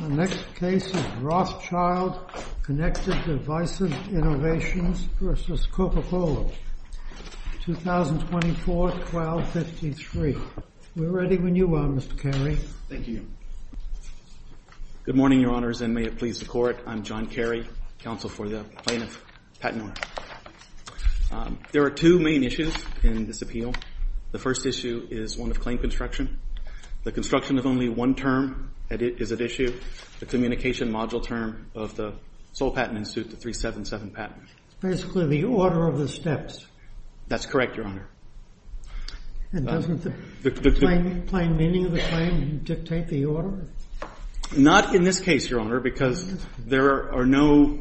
The next case is Rothschild Connected Devices Innovations v. Coca-Cola, 2024, 1253. We're ready when you are, Mr. Carey. Thank you. Good morning, Your Honors, and may it please the Court. I'm John Carey, Counsel for the Plaintiff, Patinor. There are two main issues in this appeal. The first issue is one of claim construction. The construction of only one term is at issue. The communication module term of the Sole Patent Institute, the 377 patent. Basically the order of the steps. That's correct, Your Honor. And doesn't the plain meaning of the claim dictate the order? Not in this case, Your Honor, because there are no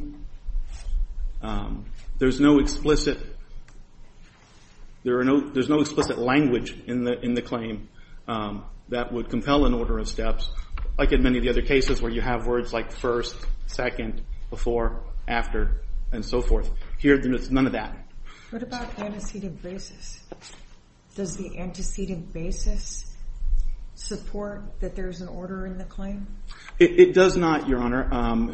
explicit language in the claim that would compel an order of steps. Like in many of the other cases where you have words like first, second, before, after, and so forth. Here there is none of that. What about antecedent basis? Does the antecedent basis support that there is an order in the claim? It does not, Your Honor.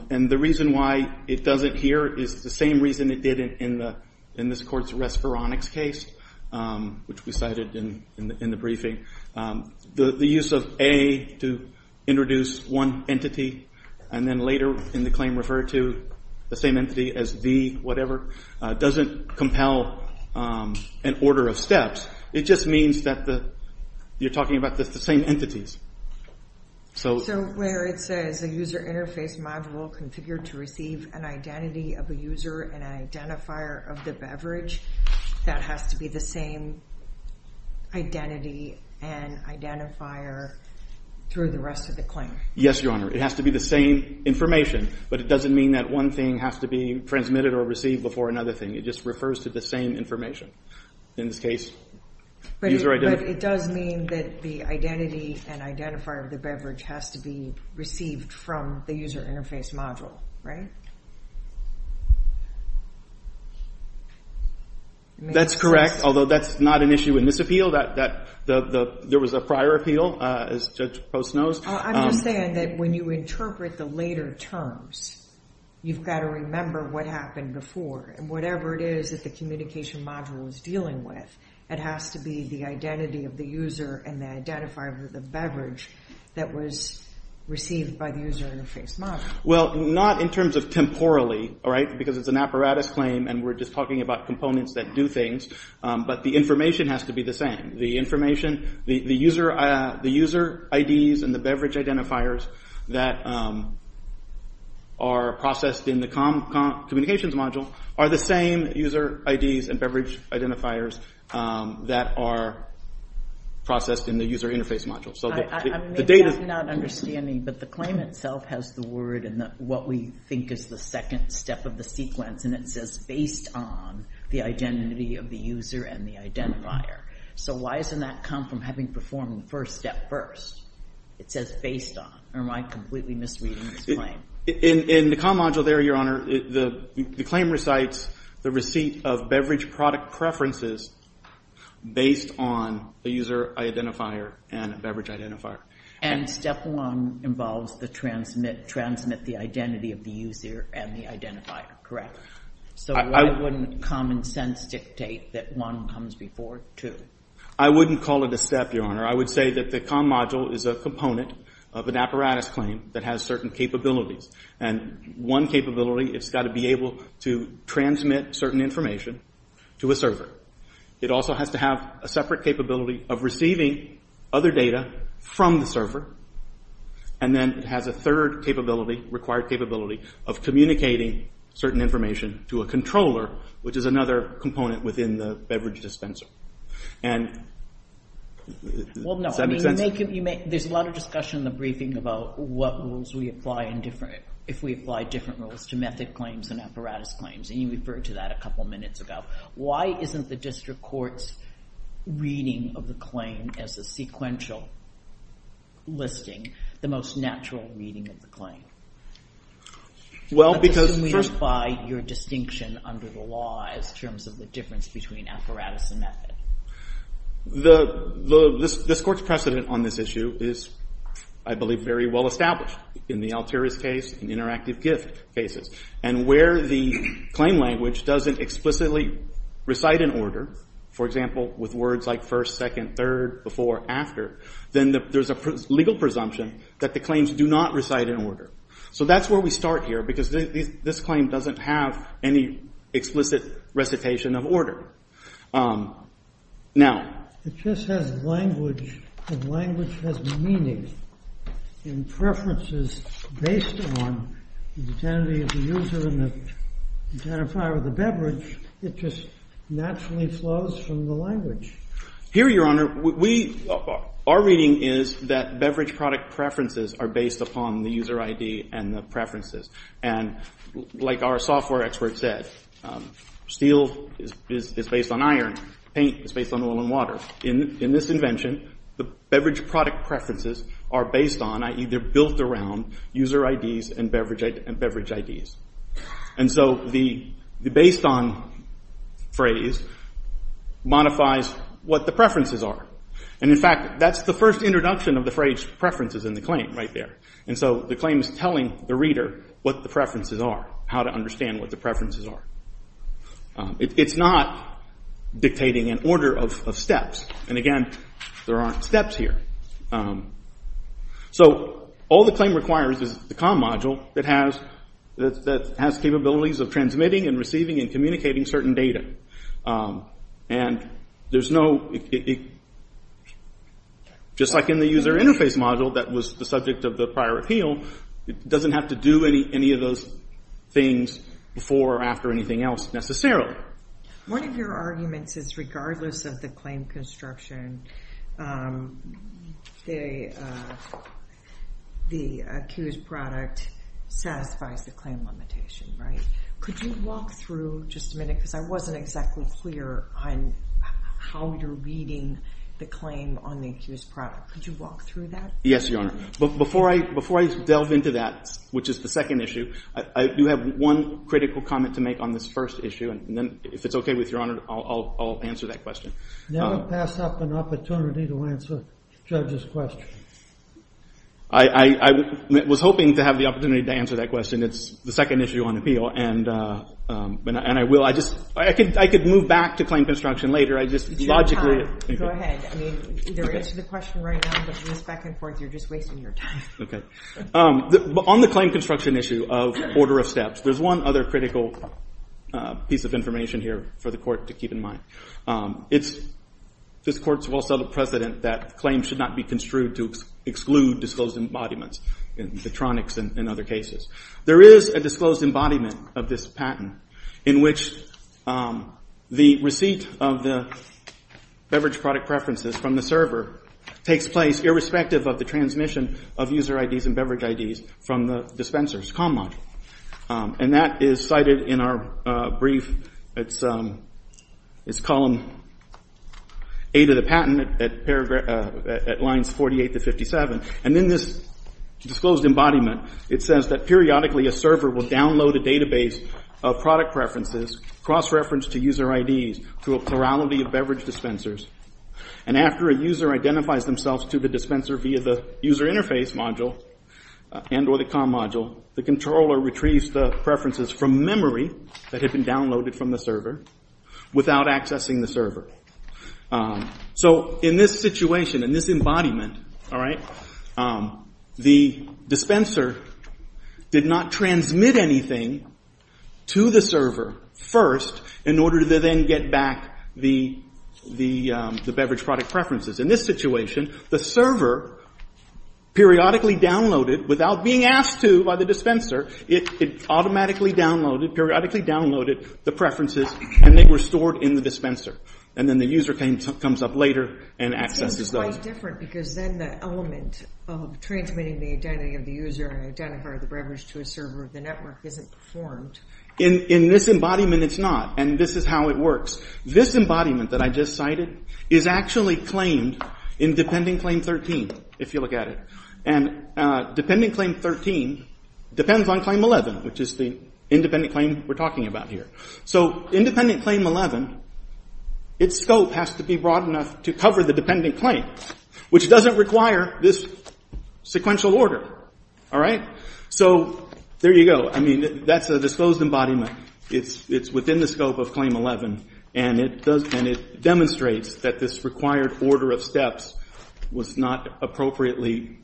And the reason why it doesn't here is the same reason it did in this Court's Resveronics case, which we cited in the briefing. The use of A to introduce one entity and then later in the claim refer to the same entity as B, whatever, doesn't compel an order of steps. It just means that you're talking about the same entities. So where it says a user interface module configured to receive an identity of a user and an identifier of the beverage, that has to be the same identity and identifier through the rest of the claim? Yes, Your Honor. It has to be the same information, but it doesn't mean that one thing has to be transmitted or received before another thing. It just refers to the same information. In this case, user identity. But it does mean that the identity and identifier of the beverage has to be received from the user interface module, right? That's correct, although that's not an issue in this appeal. There was a prior appeal, as Judge Post knows. I'm just saying that when you interpret the later terms, you've got to remember what happened before. Whatever it is that the communication module is dealing with, it has to be the identity of the user and the identifier of the beverage that was received by the user interface module. Well, not in terms of temporally, because it's an apparatus claim and we're just talking about components that do things, but the information has to be the same. The user IDs and the beverage identifiers that are processed in the communications module are the same user IDs and beverage identifiers that are processed in the user interface module. Maybe I'm not understanding, but the claim itself has the word and what we think is the second step of the sequence, and it says based on the identity of the user and the identifier. So why doesn't that come from having performed the first step first? It says based on, or am I completely misreading this claim? In the comm module there, Your Honor, the claim recites the receipt of beverage product preferences based on the user identifier and beverage identifier. And step one involves the transmit, transmit the identity of the user and the identifier, correct? So why wouldn't common sense dictate that one comes before two? I wouldn't call it a step, Your Honor. I would say that the comm module is a component of an apparatus claim that has certain capabilities, and one capability, it's got to be able to transmit certain information to a server. It also has to have a separate capability of receiving other data from the server, and then it has a third capability, required capability, of communicating certain information to a controller, which is another component within the beverage dispenser. And does that make sense? Well, no. There's a lot of discussion in the briefing about what rules we apply in different – if we apply different rules to method claims and apparatus claims, and you referred to that a couple of minutes ago. Why isn't the district court's reading of the claim as a sequential listing the most natural reading of the claim? Well, because first – under the law as terms of the difference between apparatus and method. The – this Court's precedent on this issue is, I believe, very well established in the Altieri's case and interactive gift cases. And where the claim language doesn't explicitly recite an order, for example, with words like first, second, third, before, after, then there's a legal presumption that the claims do not recite an order. So that's where we start here, because this claim doesn't have any explicit recitation of order. Now – It just has language, and language has meaning. And preferences based upon the identity of the user and the identifier of the beverage, it just naturally flows from the language. Here, Your Honor, we – our reading is that beverage product preferences are based upon the user ID and the preferences. And like our software expert said, steel is based on iron. Paint is based on oil and water. In this invention, the beverage product preferences are based on, i.e., they're built around user IDs and beverage IDs. And so the based on phrase modifies what the preferences are. And, in fact, that's the first introduction of the phrase preferences in the claim right there. And so the claim is telling the reader what the preferences are, how to understand what the preferences are. It's not dictating an order of steps. And, again, there aren't steps here. So all the claim requires is the COM module that has capabilities of transmitting and receiving and communicating certain data. And there's no – just like in the user interface module that was the subject of the prior appeal, it doesn't have to do any of those things before or after anything else necessarily. One of your arguments is regardless of the claim construction, the accused product satisfies the claim limitation, right? Could you walk through, just a minute, because I wasn't exactly clear on how you're reading the claim on the accused product. Could you walk through that? Yes, Your Honor. Before I delve into that, which is the second issue, I do have one critical comment to make on this first issue. And then if it's okay with Your Honor, I'll answer that question. Never pass up an opportunity to answer a judge's question. I was hoping to have the opportunity to answer that question. It's the second issue on appeal, and I will. I could move back to claim construction later. It's your time. Go ahead. I mean, either answer the question right now, but with this back and forth, you're just wasting your time. Okay. On the claim construction issue of order of steps, there's one other critical piece of information here for the Court to keep in mind. It's this Court's well-settled precedent that claims should not be construed to exclude disclosed embodiments, the tronics and other cases. There is a disclosed embodiment of this patent in which the receipt of the beverage product preferences from the server takes place irrespective of the transmission of user IDs and beverage IDs from the dispenser's comm module. And that is cited in our brief. It's column 8 of the patent at lines 48 to 57. And in this disclosed embodiment, it says that periodically a server will download a database of product preferences, cross-reference to user IDs, to a plurality of beverage dispensers. And after a user identifies themselves to the dispenser via the user interface module and or the comm module, the controller retrieves the preferences from memory that had been downloaded from the server without accessing the server. So in this situation, in this embodiment, all right, the dispenser did not transmit anything to the server first in order to then get back the beverage product preferences. In this situation, the server periodically downloaded without being asked to by the dispenser. It automatically downloaded, periodically downloaded the preferences, and they were stored in the dispenser. And then the user comes up later and accesses those. It's quite different because then the element of transmitting the identity of the user and identifying the beverage to a server of the network isn't performed. In this embodiment, it's not. And this is how it works. This embodiment that I just cited is actually claimed in Dependent Claim 13, if you look at it. And Dependent Claim 13 depends on Claim 11, which is the independent claim we're talking about here. So in Dependent Claim 11, its scope has to be broad enough to cover the dependent claim, which doesn't require this sequential order. All right? So there you go. I mean, that's a disposed embodiment. It's within the scope of Claim 11, and it demonstrates that this required order of steps was not appropriately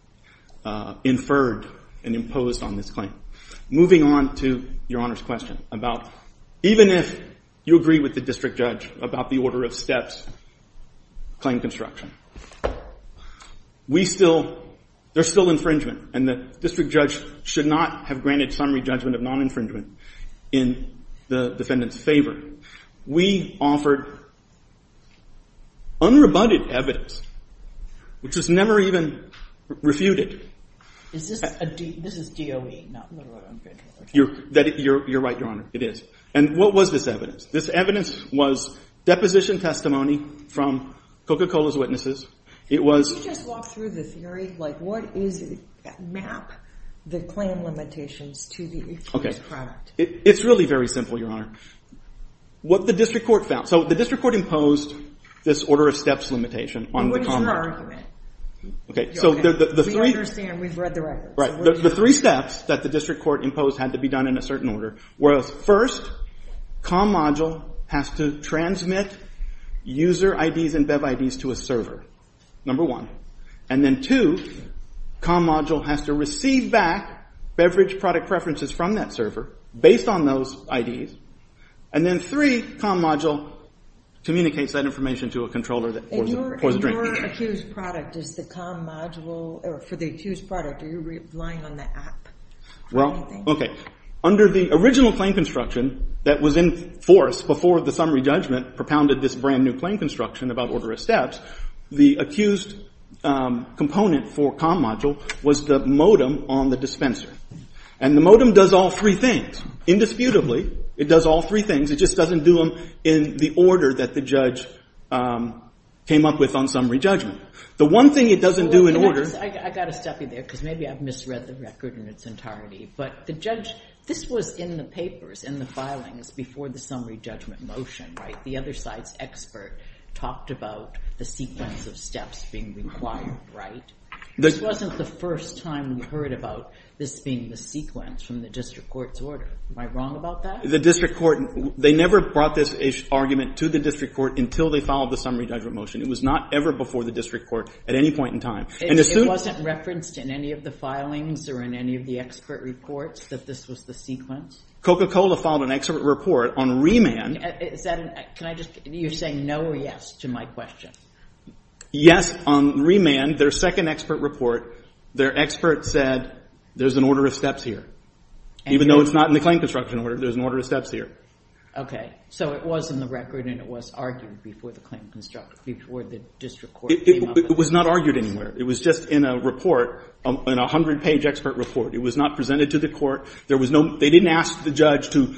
inferred and imposed on this claim. Moving on to Your Honor's question about even if you agree with the district judge about the order of steps, claim construction, there's still infringement, and the district judge should not have granted summary judgment of non-infringement in the defendant's favor. We offered unrebutted evidence, which was never even refuted. This is DOE, not literal infringement. You're right, Your Honor. It is. And what was this evidence? This evidence was deposition testimony from Coca-Cola's witnesses. Can you just walk through the theory? Like, what is it that map the claim limitations to the accused product? Okay. It's really very simple, Your Honor. What the district court found. So the district court imposed this order of steps limitation on the convict. And what is your argument? We understand. We've read the records. The three steps that the district court imposed had to be done in a certain order was first, comm module has to transmit user IDs and BEV IDs to a server, number one. And then, two, comm module has to receive back beverage product preferences from that server based on those IDs. And then, three, comm module communicates that information to a controller that pours the drink. Your accused product is the comm module. For the accused product, are you relying on the app? Well, okay. Under the original claim construction that was in force before the summary judgment propounded this brand new claim construction about order of steps, the accused component for comm module was the modem on the dispenser. And the modem does all three things. Indisputably, it does all three things. It just doesn't do them in the order that the judge came up with on summary judgment. The one thing it doesn't do in order of steps. I've got to stop you there because maybe I've misread the record in its entirety. But the judge, this was in the papers, in the filings, before the summary judgment motion, right? The other side's expert talked about the sequence of steps being required, right? This wasn't the first time we heard about this being the sequence from the district court's order. Am I wrong about that? The district court, they never brought this argument to the district court until they filed the summary judgment motion. It was not ever before the district court at any point in time. It wasn't referenced in any of the filings or in any of the expert reports that this was the sequence? Coca-Cola filed an expert report on remand. Can I just, you're saying no or yes to my question. Yes, on remand, their second expert report, their expert said there's an order of steps here. Even though it's not in the claim construction order, there's an order of steps here. So it was in the record and it was argued before the claim construction, before the district court came up with it? It was not argued anywhere. It was just in a report, in a 100-page expert report. It was not presented to the court. They didn't ask the judge to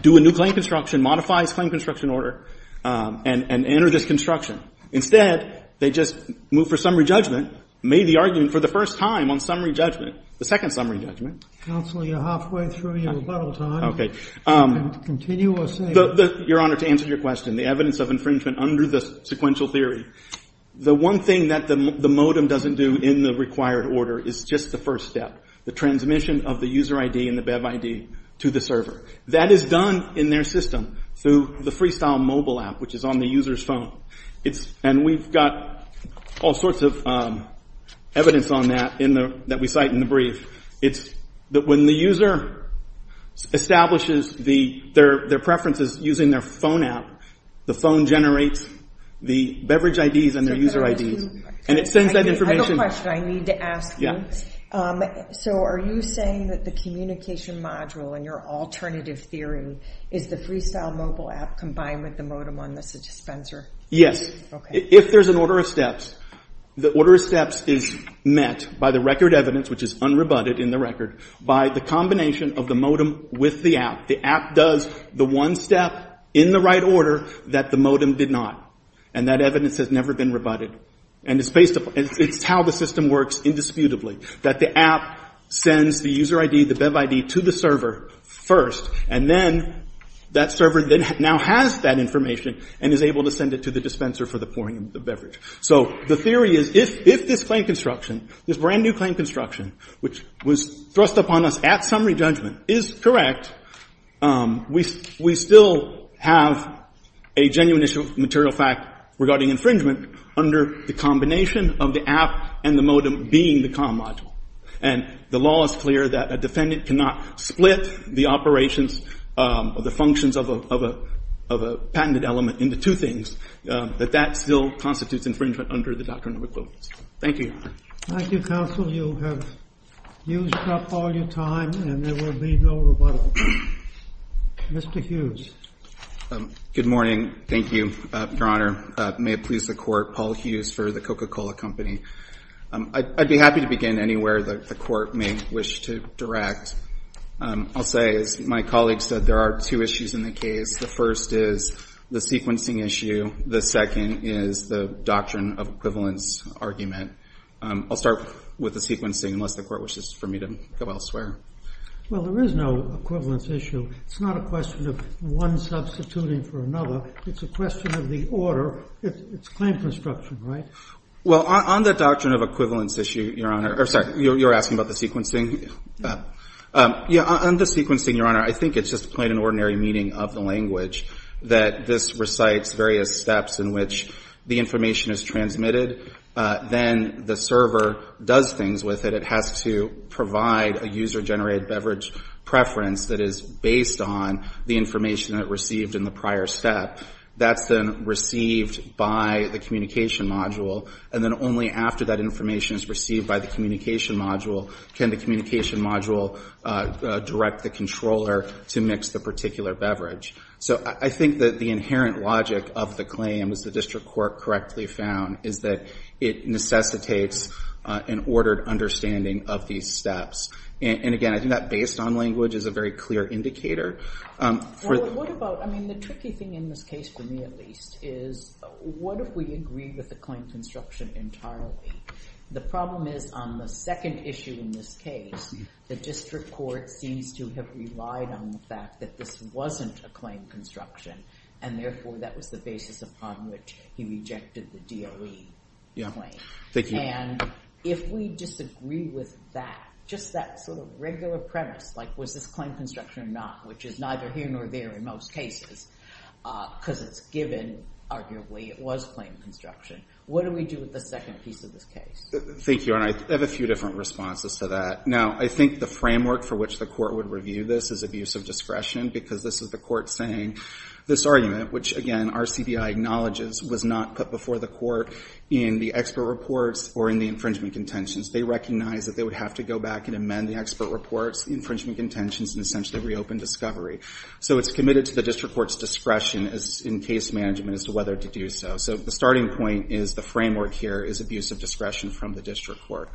do a new claim construction, modify his claim construction order, and enter this construction. Instead, they just moved for summary judgment, made the argument for the first time on summary judgment, the second summary judgment. Counsel, you're halfway through your rebuttal time. Continue or say. Your Honor, to answer your question, the evidence of infringement under the sequential theory, the one thing that the modem doesn't do in the required order is just the first step, the transmission of the user ID and the BEV ID to the server. That is done in their system through the Freestyle mobile app, which is on the user's phone. And we've got all sorts of evidence on that that we cite in the brief. It's that when the user establishes their preferences using their phone app, the phone generates the beverage IDs and their user IDs, and it sends that information. I have a question I need to ask you. So are you saying that the communication module and your alternative theory is the Freestyle mobile app combined with the modem on the dispenser? Yes. Okay. If there's an order of steps, the order of steps is met by the record evidence, which is unrebutted in the record, by the combination of the modem with the app. The app does the one step in the right order that the modem did not. And that evidence has never been rebutted. And it's how the system works indisputably, that the app sends the user ID, the BEV ID, to the server first, and then that server now has that information and is able to send it to the dispenser for the pouring of the beverage. So the theory is if this claim construction, this brand-new claim construction, which was thrust upon us at summary judgment, is correct, we still have a genuine issue of material fact regarding infringement under the combination of the app and the modem being the comm module. And the law is clear that a defendant cannot split the operations or the functions of a patented element into two things, that that still constitutes infringement under the doctrine of equivalence. Thank you, Your Honor. Thank you, counsel. You have used up all your time and there will be no rebuttal. Mr. Hughes. Good morning. Thank you, Your Honor. May it please the Court, Paul Hughes for the Coca-Cola Company. I'd be happy to begin anywhere the Court may wish to direct. I'll say, as my colleague said, there are two issues in the case. The first is the sequencing issue. The second is the doctrine of equivalence argument. I'll start with the sequencing unless the Court wishes for me to go elsewhere. Well, there is no equivalence issue. It's not a question of one substituting for another. It's a question of the order. It's claim construction, right? Well, on the doctrine of equivalence issue, Your Honor, or sorry, you're asking about the sequencing? Yeah, on the sequencing, Your Honor, I think it's just plain and ordinary meaning of the language that this recites various steps in which the information is transmitted. Then the server does things with it. It has to provide a user-generated beverage preference that is based on the information it received in the prior step. That's then received by the communication module, and then only after that information is received by the communication module can the communication module direct the controller to mix the particular beverage. So I think that the inherent logic of the claim, as the district court correctly found, is that it necessitates an ordered understanding of these steps. And again, I think that based on language is a very clear indicator. What about, I mean, the tricky thing in this case for me at least is what if we agree with the claim construction entirely? The problem is on the second issue in this case, the district court seems to have relied on the fact that this wasn't a claim construction, and therefore that was the basis upon which he rejected the DOE claim. And if we disagree with that, just that sort of regular premise, like was this claim construction or not, which is neither here nor there in most cases, because it's given, arguably it was claim construction, what do we do with the second piece of this case? Thank you, and I have a few different responses to that. Now, I think the framework for which the court would review this is abuse of discretion because this is the court saying this argument, which again, RCBI acknowledges, was not put before the court in the expert reports or in the infringement contentions. They recognize that they would have to go back and amend the expert reports, the infringement contentions, and essentially reopen discovery. So it's committed to the district court's discretion in case management as to whether to do so. So the starting point is the framework here is abuse of discretion from the district court.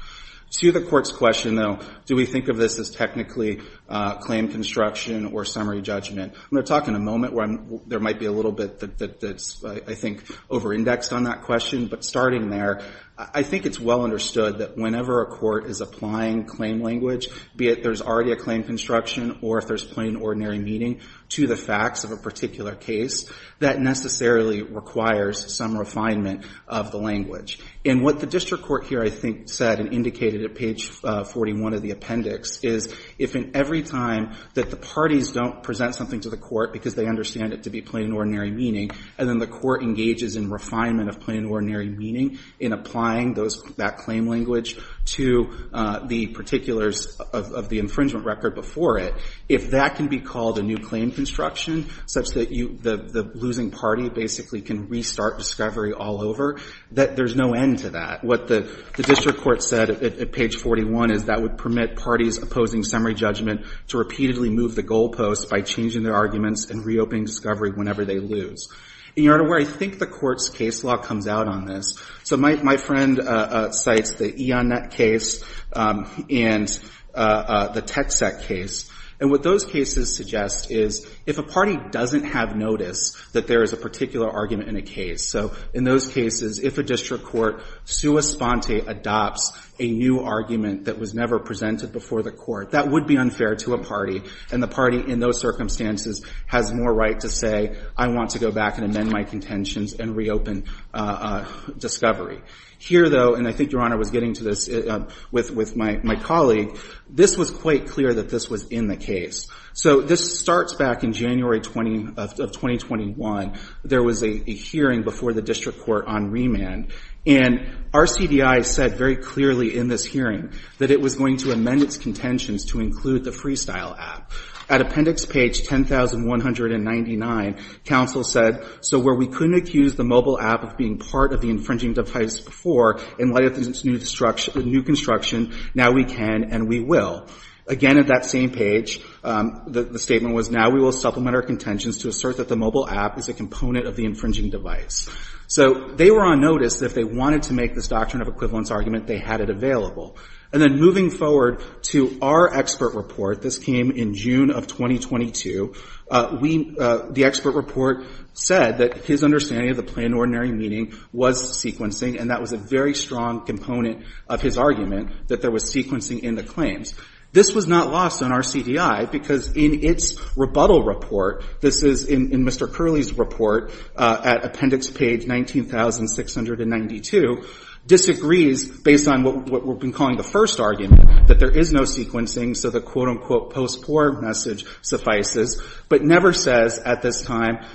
To the court's question, though, do we think of this as technically claim construction or summary judgment? I'm going to talk in a moment where there might be a little bit that's, I think, over-indexed on that question, but starting there, I think it's well understood that whenever a court is applying claim language, be it there's already a claim construction or if there's plain ordinary meaning to the facts of a particular case, that necessarily requires some refinement of the language. And what the district court here, I think, said and indicated at page 41 of the appendix is if in every time that the parties don't present something to the court because they understand it to be plain ordinary meaning, and then the court engages in refinement of plain ordinary meaning in applying that claim language to the particulars of the infringement record before it, if that can be called a new claim construction, such that the losing party basically can restart discovery all over, that there's no end to that. What the district court said at page 41 is that would permit parties opposing summary judgment to repeatedly move the goalposts by changing their arguments and reopening discovery whenever they lose. In order where I think the court's case law comes out on this, So my friend cites the Ionet case and the Texet case. And what those cases suggest is if a party doesn't have notice that there is a particular argument in a case, so in those cases, if a district court sua sponte adopts a new argument that was never presented before the court, that would be unfair to a party. And the party in those circumstances has more right to say, I want to go back and amend my contentions and reopen discovery. Here, though, and I think Your Honor was getting to this with my colleague, this was quite clear that this was in the case. So this starts back in January of 2021. There was a hearing before the district court on remand. And RCBI said very clearly in this hearing that it was going to amend its contentions to include the Freestyle Act. At appendix page 10199, counsel said, So where we couldn't accuse the mobile app of being part of the infringing device before, in light of its new construction, now we can and we will. Again, at that same page, the statement was, Now we will supplement our contentions to assert that the mobile app is a component of the infringing device. So they were on notice that if they wanted to make this doctrine of equivalence argument, they had it available. And then moving forward to our expert report, this came in June of 2022. The expert report said that his understanding of the plain and ordinary meaning was sequencing, and that was a very strong component of his argument that there was sequencing in the claims. This was not lost on RCBI because in its rebuttal report, this is in Mr. Curley's report at appendix page 19,692, disagrees, based on what we've been calling the first argument, that there is no sequencing, so the quote, unquote, post-court message suffices, but never says at this time,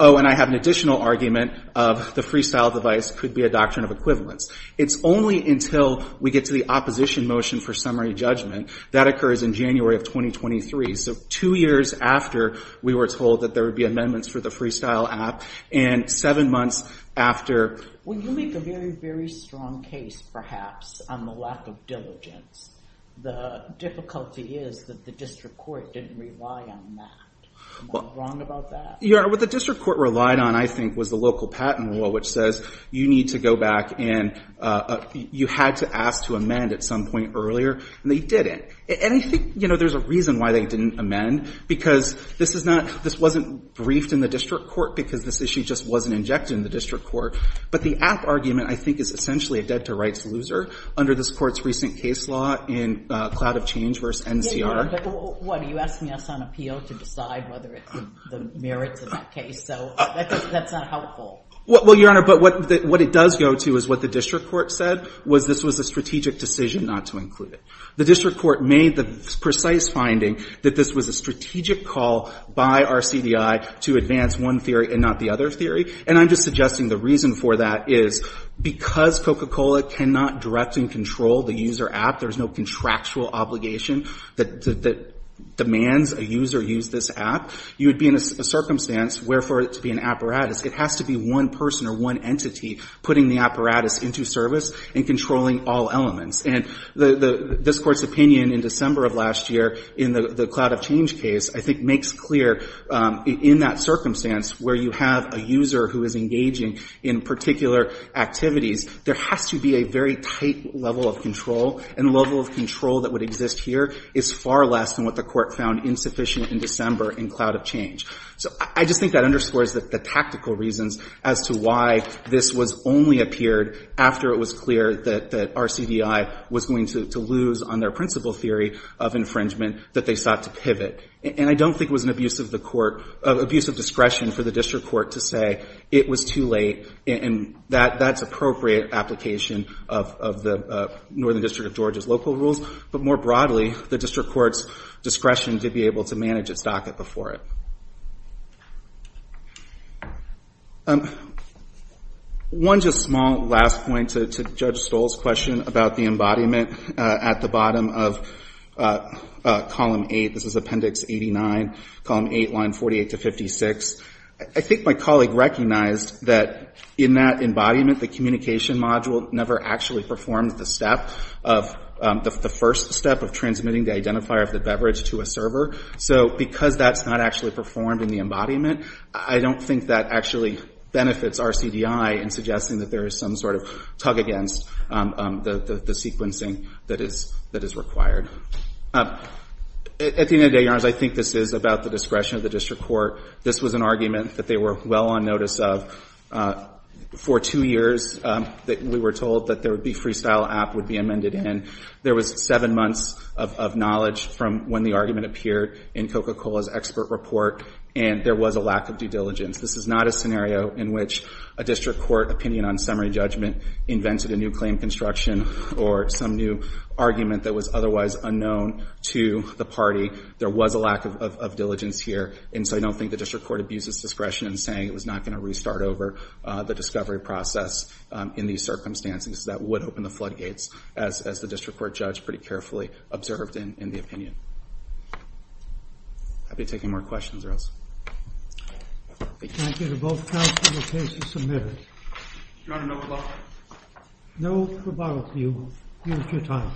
Oh, and I have an additional argument of the freestyle device could be a doctrine of equivalence. It's only until we get to the opposition motion for summary judgment. That occurs in January of 2023. So two years after we were told that there would be amendments for the freestyle app, and seven months after. When you make a very, very strong case, perhaps, on the lack of diligence, the difficulty is that the district court didn't rely on that. Am I wrong about that? Your Honor, what the district court relied on, I think, was the local patent law, which says you need to go back and you had to ask to amend at some point earlier, and they didn't. And I think, you know, there's a reason why they didn't amend, because this is not, this wasn't briefed in the district court, because this issue just wasn't injected in the district court, but the app argument, I think, is essentially a dead-to-rights loser under this Court's recent case law in Cloud of Change v. NCR. Yeah, Your Honor, but what, are you asking us on appeal to decide whether it's the merits of that case? So that's not helpful. Well, Your Honor, but what it does go to is what the district court said, was this was a strategic decision not to include it. The district court made the precise finding that this was a strategic call by RCDI to advance one theory and not the other theory. And I'm just suggesting the reason for that is because Coca-Cola cannot direct and control the user app, there's no contractual obligation that demands a user use this app, you would be in a circumstance where for it to be an apparatus, it has to be one person or one entity putting the apparatus into service and controlling all elements. And this Court's opinion in December of last year in the Cloud of Change case, I think, makes clear in that circumstance where you have a user who is engaging in particular activities, there has to be a very tight level of control, and the level of control that would exist here is far less than what the Court found insufficient in December in Cloud of Change. So I just think that underscores the tactical reasons as to why this was only appeared after it was clear that RCDI was going to lose on their principal theory of infringement that they sought to pivot. And I don't think it was an abuse of discretion for the district court to say it was too late and that's appropriate application of the Northern District of Georgia's local rules, but more broadly, the district court's discretion to be able to manage its docket before it. One just small last point to Judge Stoll's question about the embodiment at the bottom of Column 8. This is Appendix 89, Column 8, Line 48 to 56. I think my colleague recognized that in that embodiment, the communication module never actually performed the step of the first step of transmitting the identifier of the beverage to a server. So because that's not actually performed in the embodiment, I don't think that actually benefits RCDI in suggesting that there is some sort of tug against the sequencing that is required. At the end of the day, Your Honors, I think this is about the discretion of the district court. This was an argument that they were well on notice of. For two years, we were told that there would be freestyle app would be amended in. There was seven months of knowledge from when the argument appeared in Coca-Cola's expert report, and there was a lack of due diligence. This is not a scenario in which a district court opinion on summary judgment invented a new claim construction or some new argument that was otherwise unknown to the party. There was a lack of diligence here, and so I don't think the district court abuses discretion in saying it was not going to restart over the discovery process in these circumstances. That would open the floodgates, as the district court judge pretty carefully observed in the opinion. I'd be happy to take any more questions or else. Thank you. Thank you to both counsel and the cases submitted. Your Honor, no rebuttal. No rebuttal. You've used your time.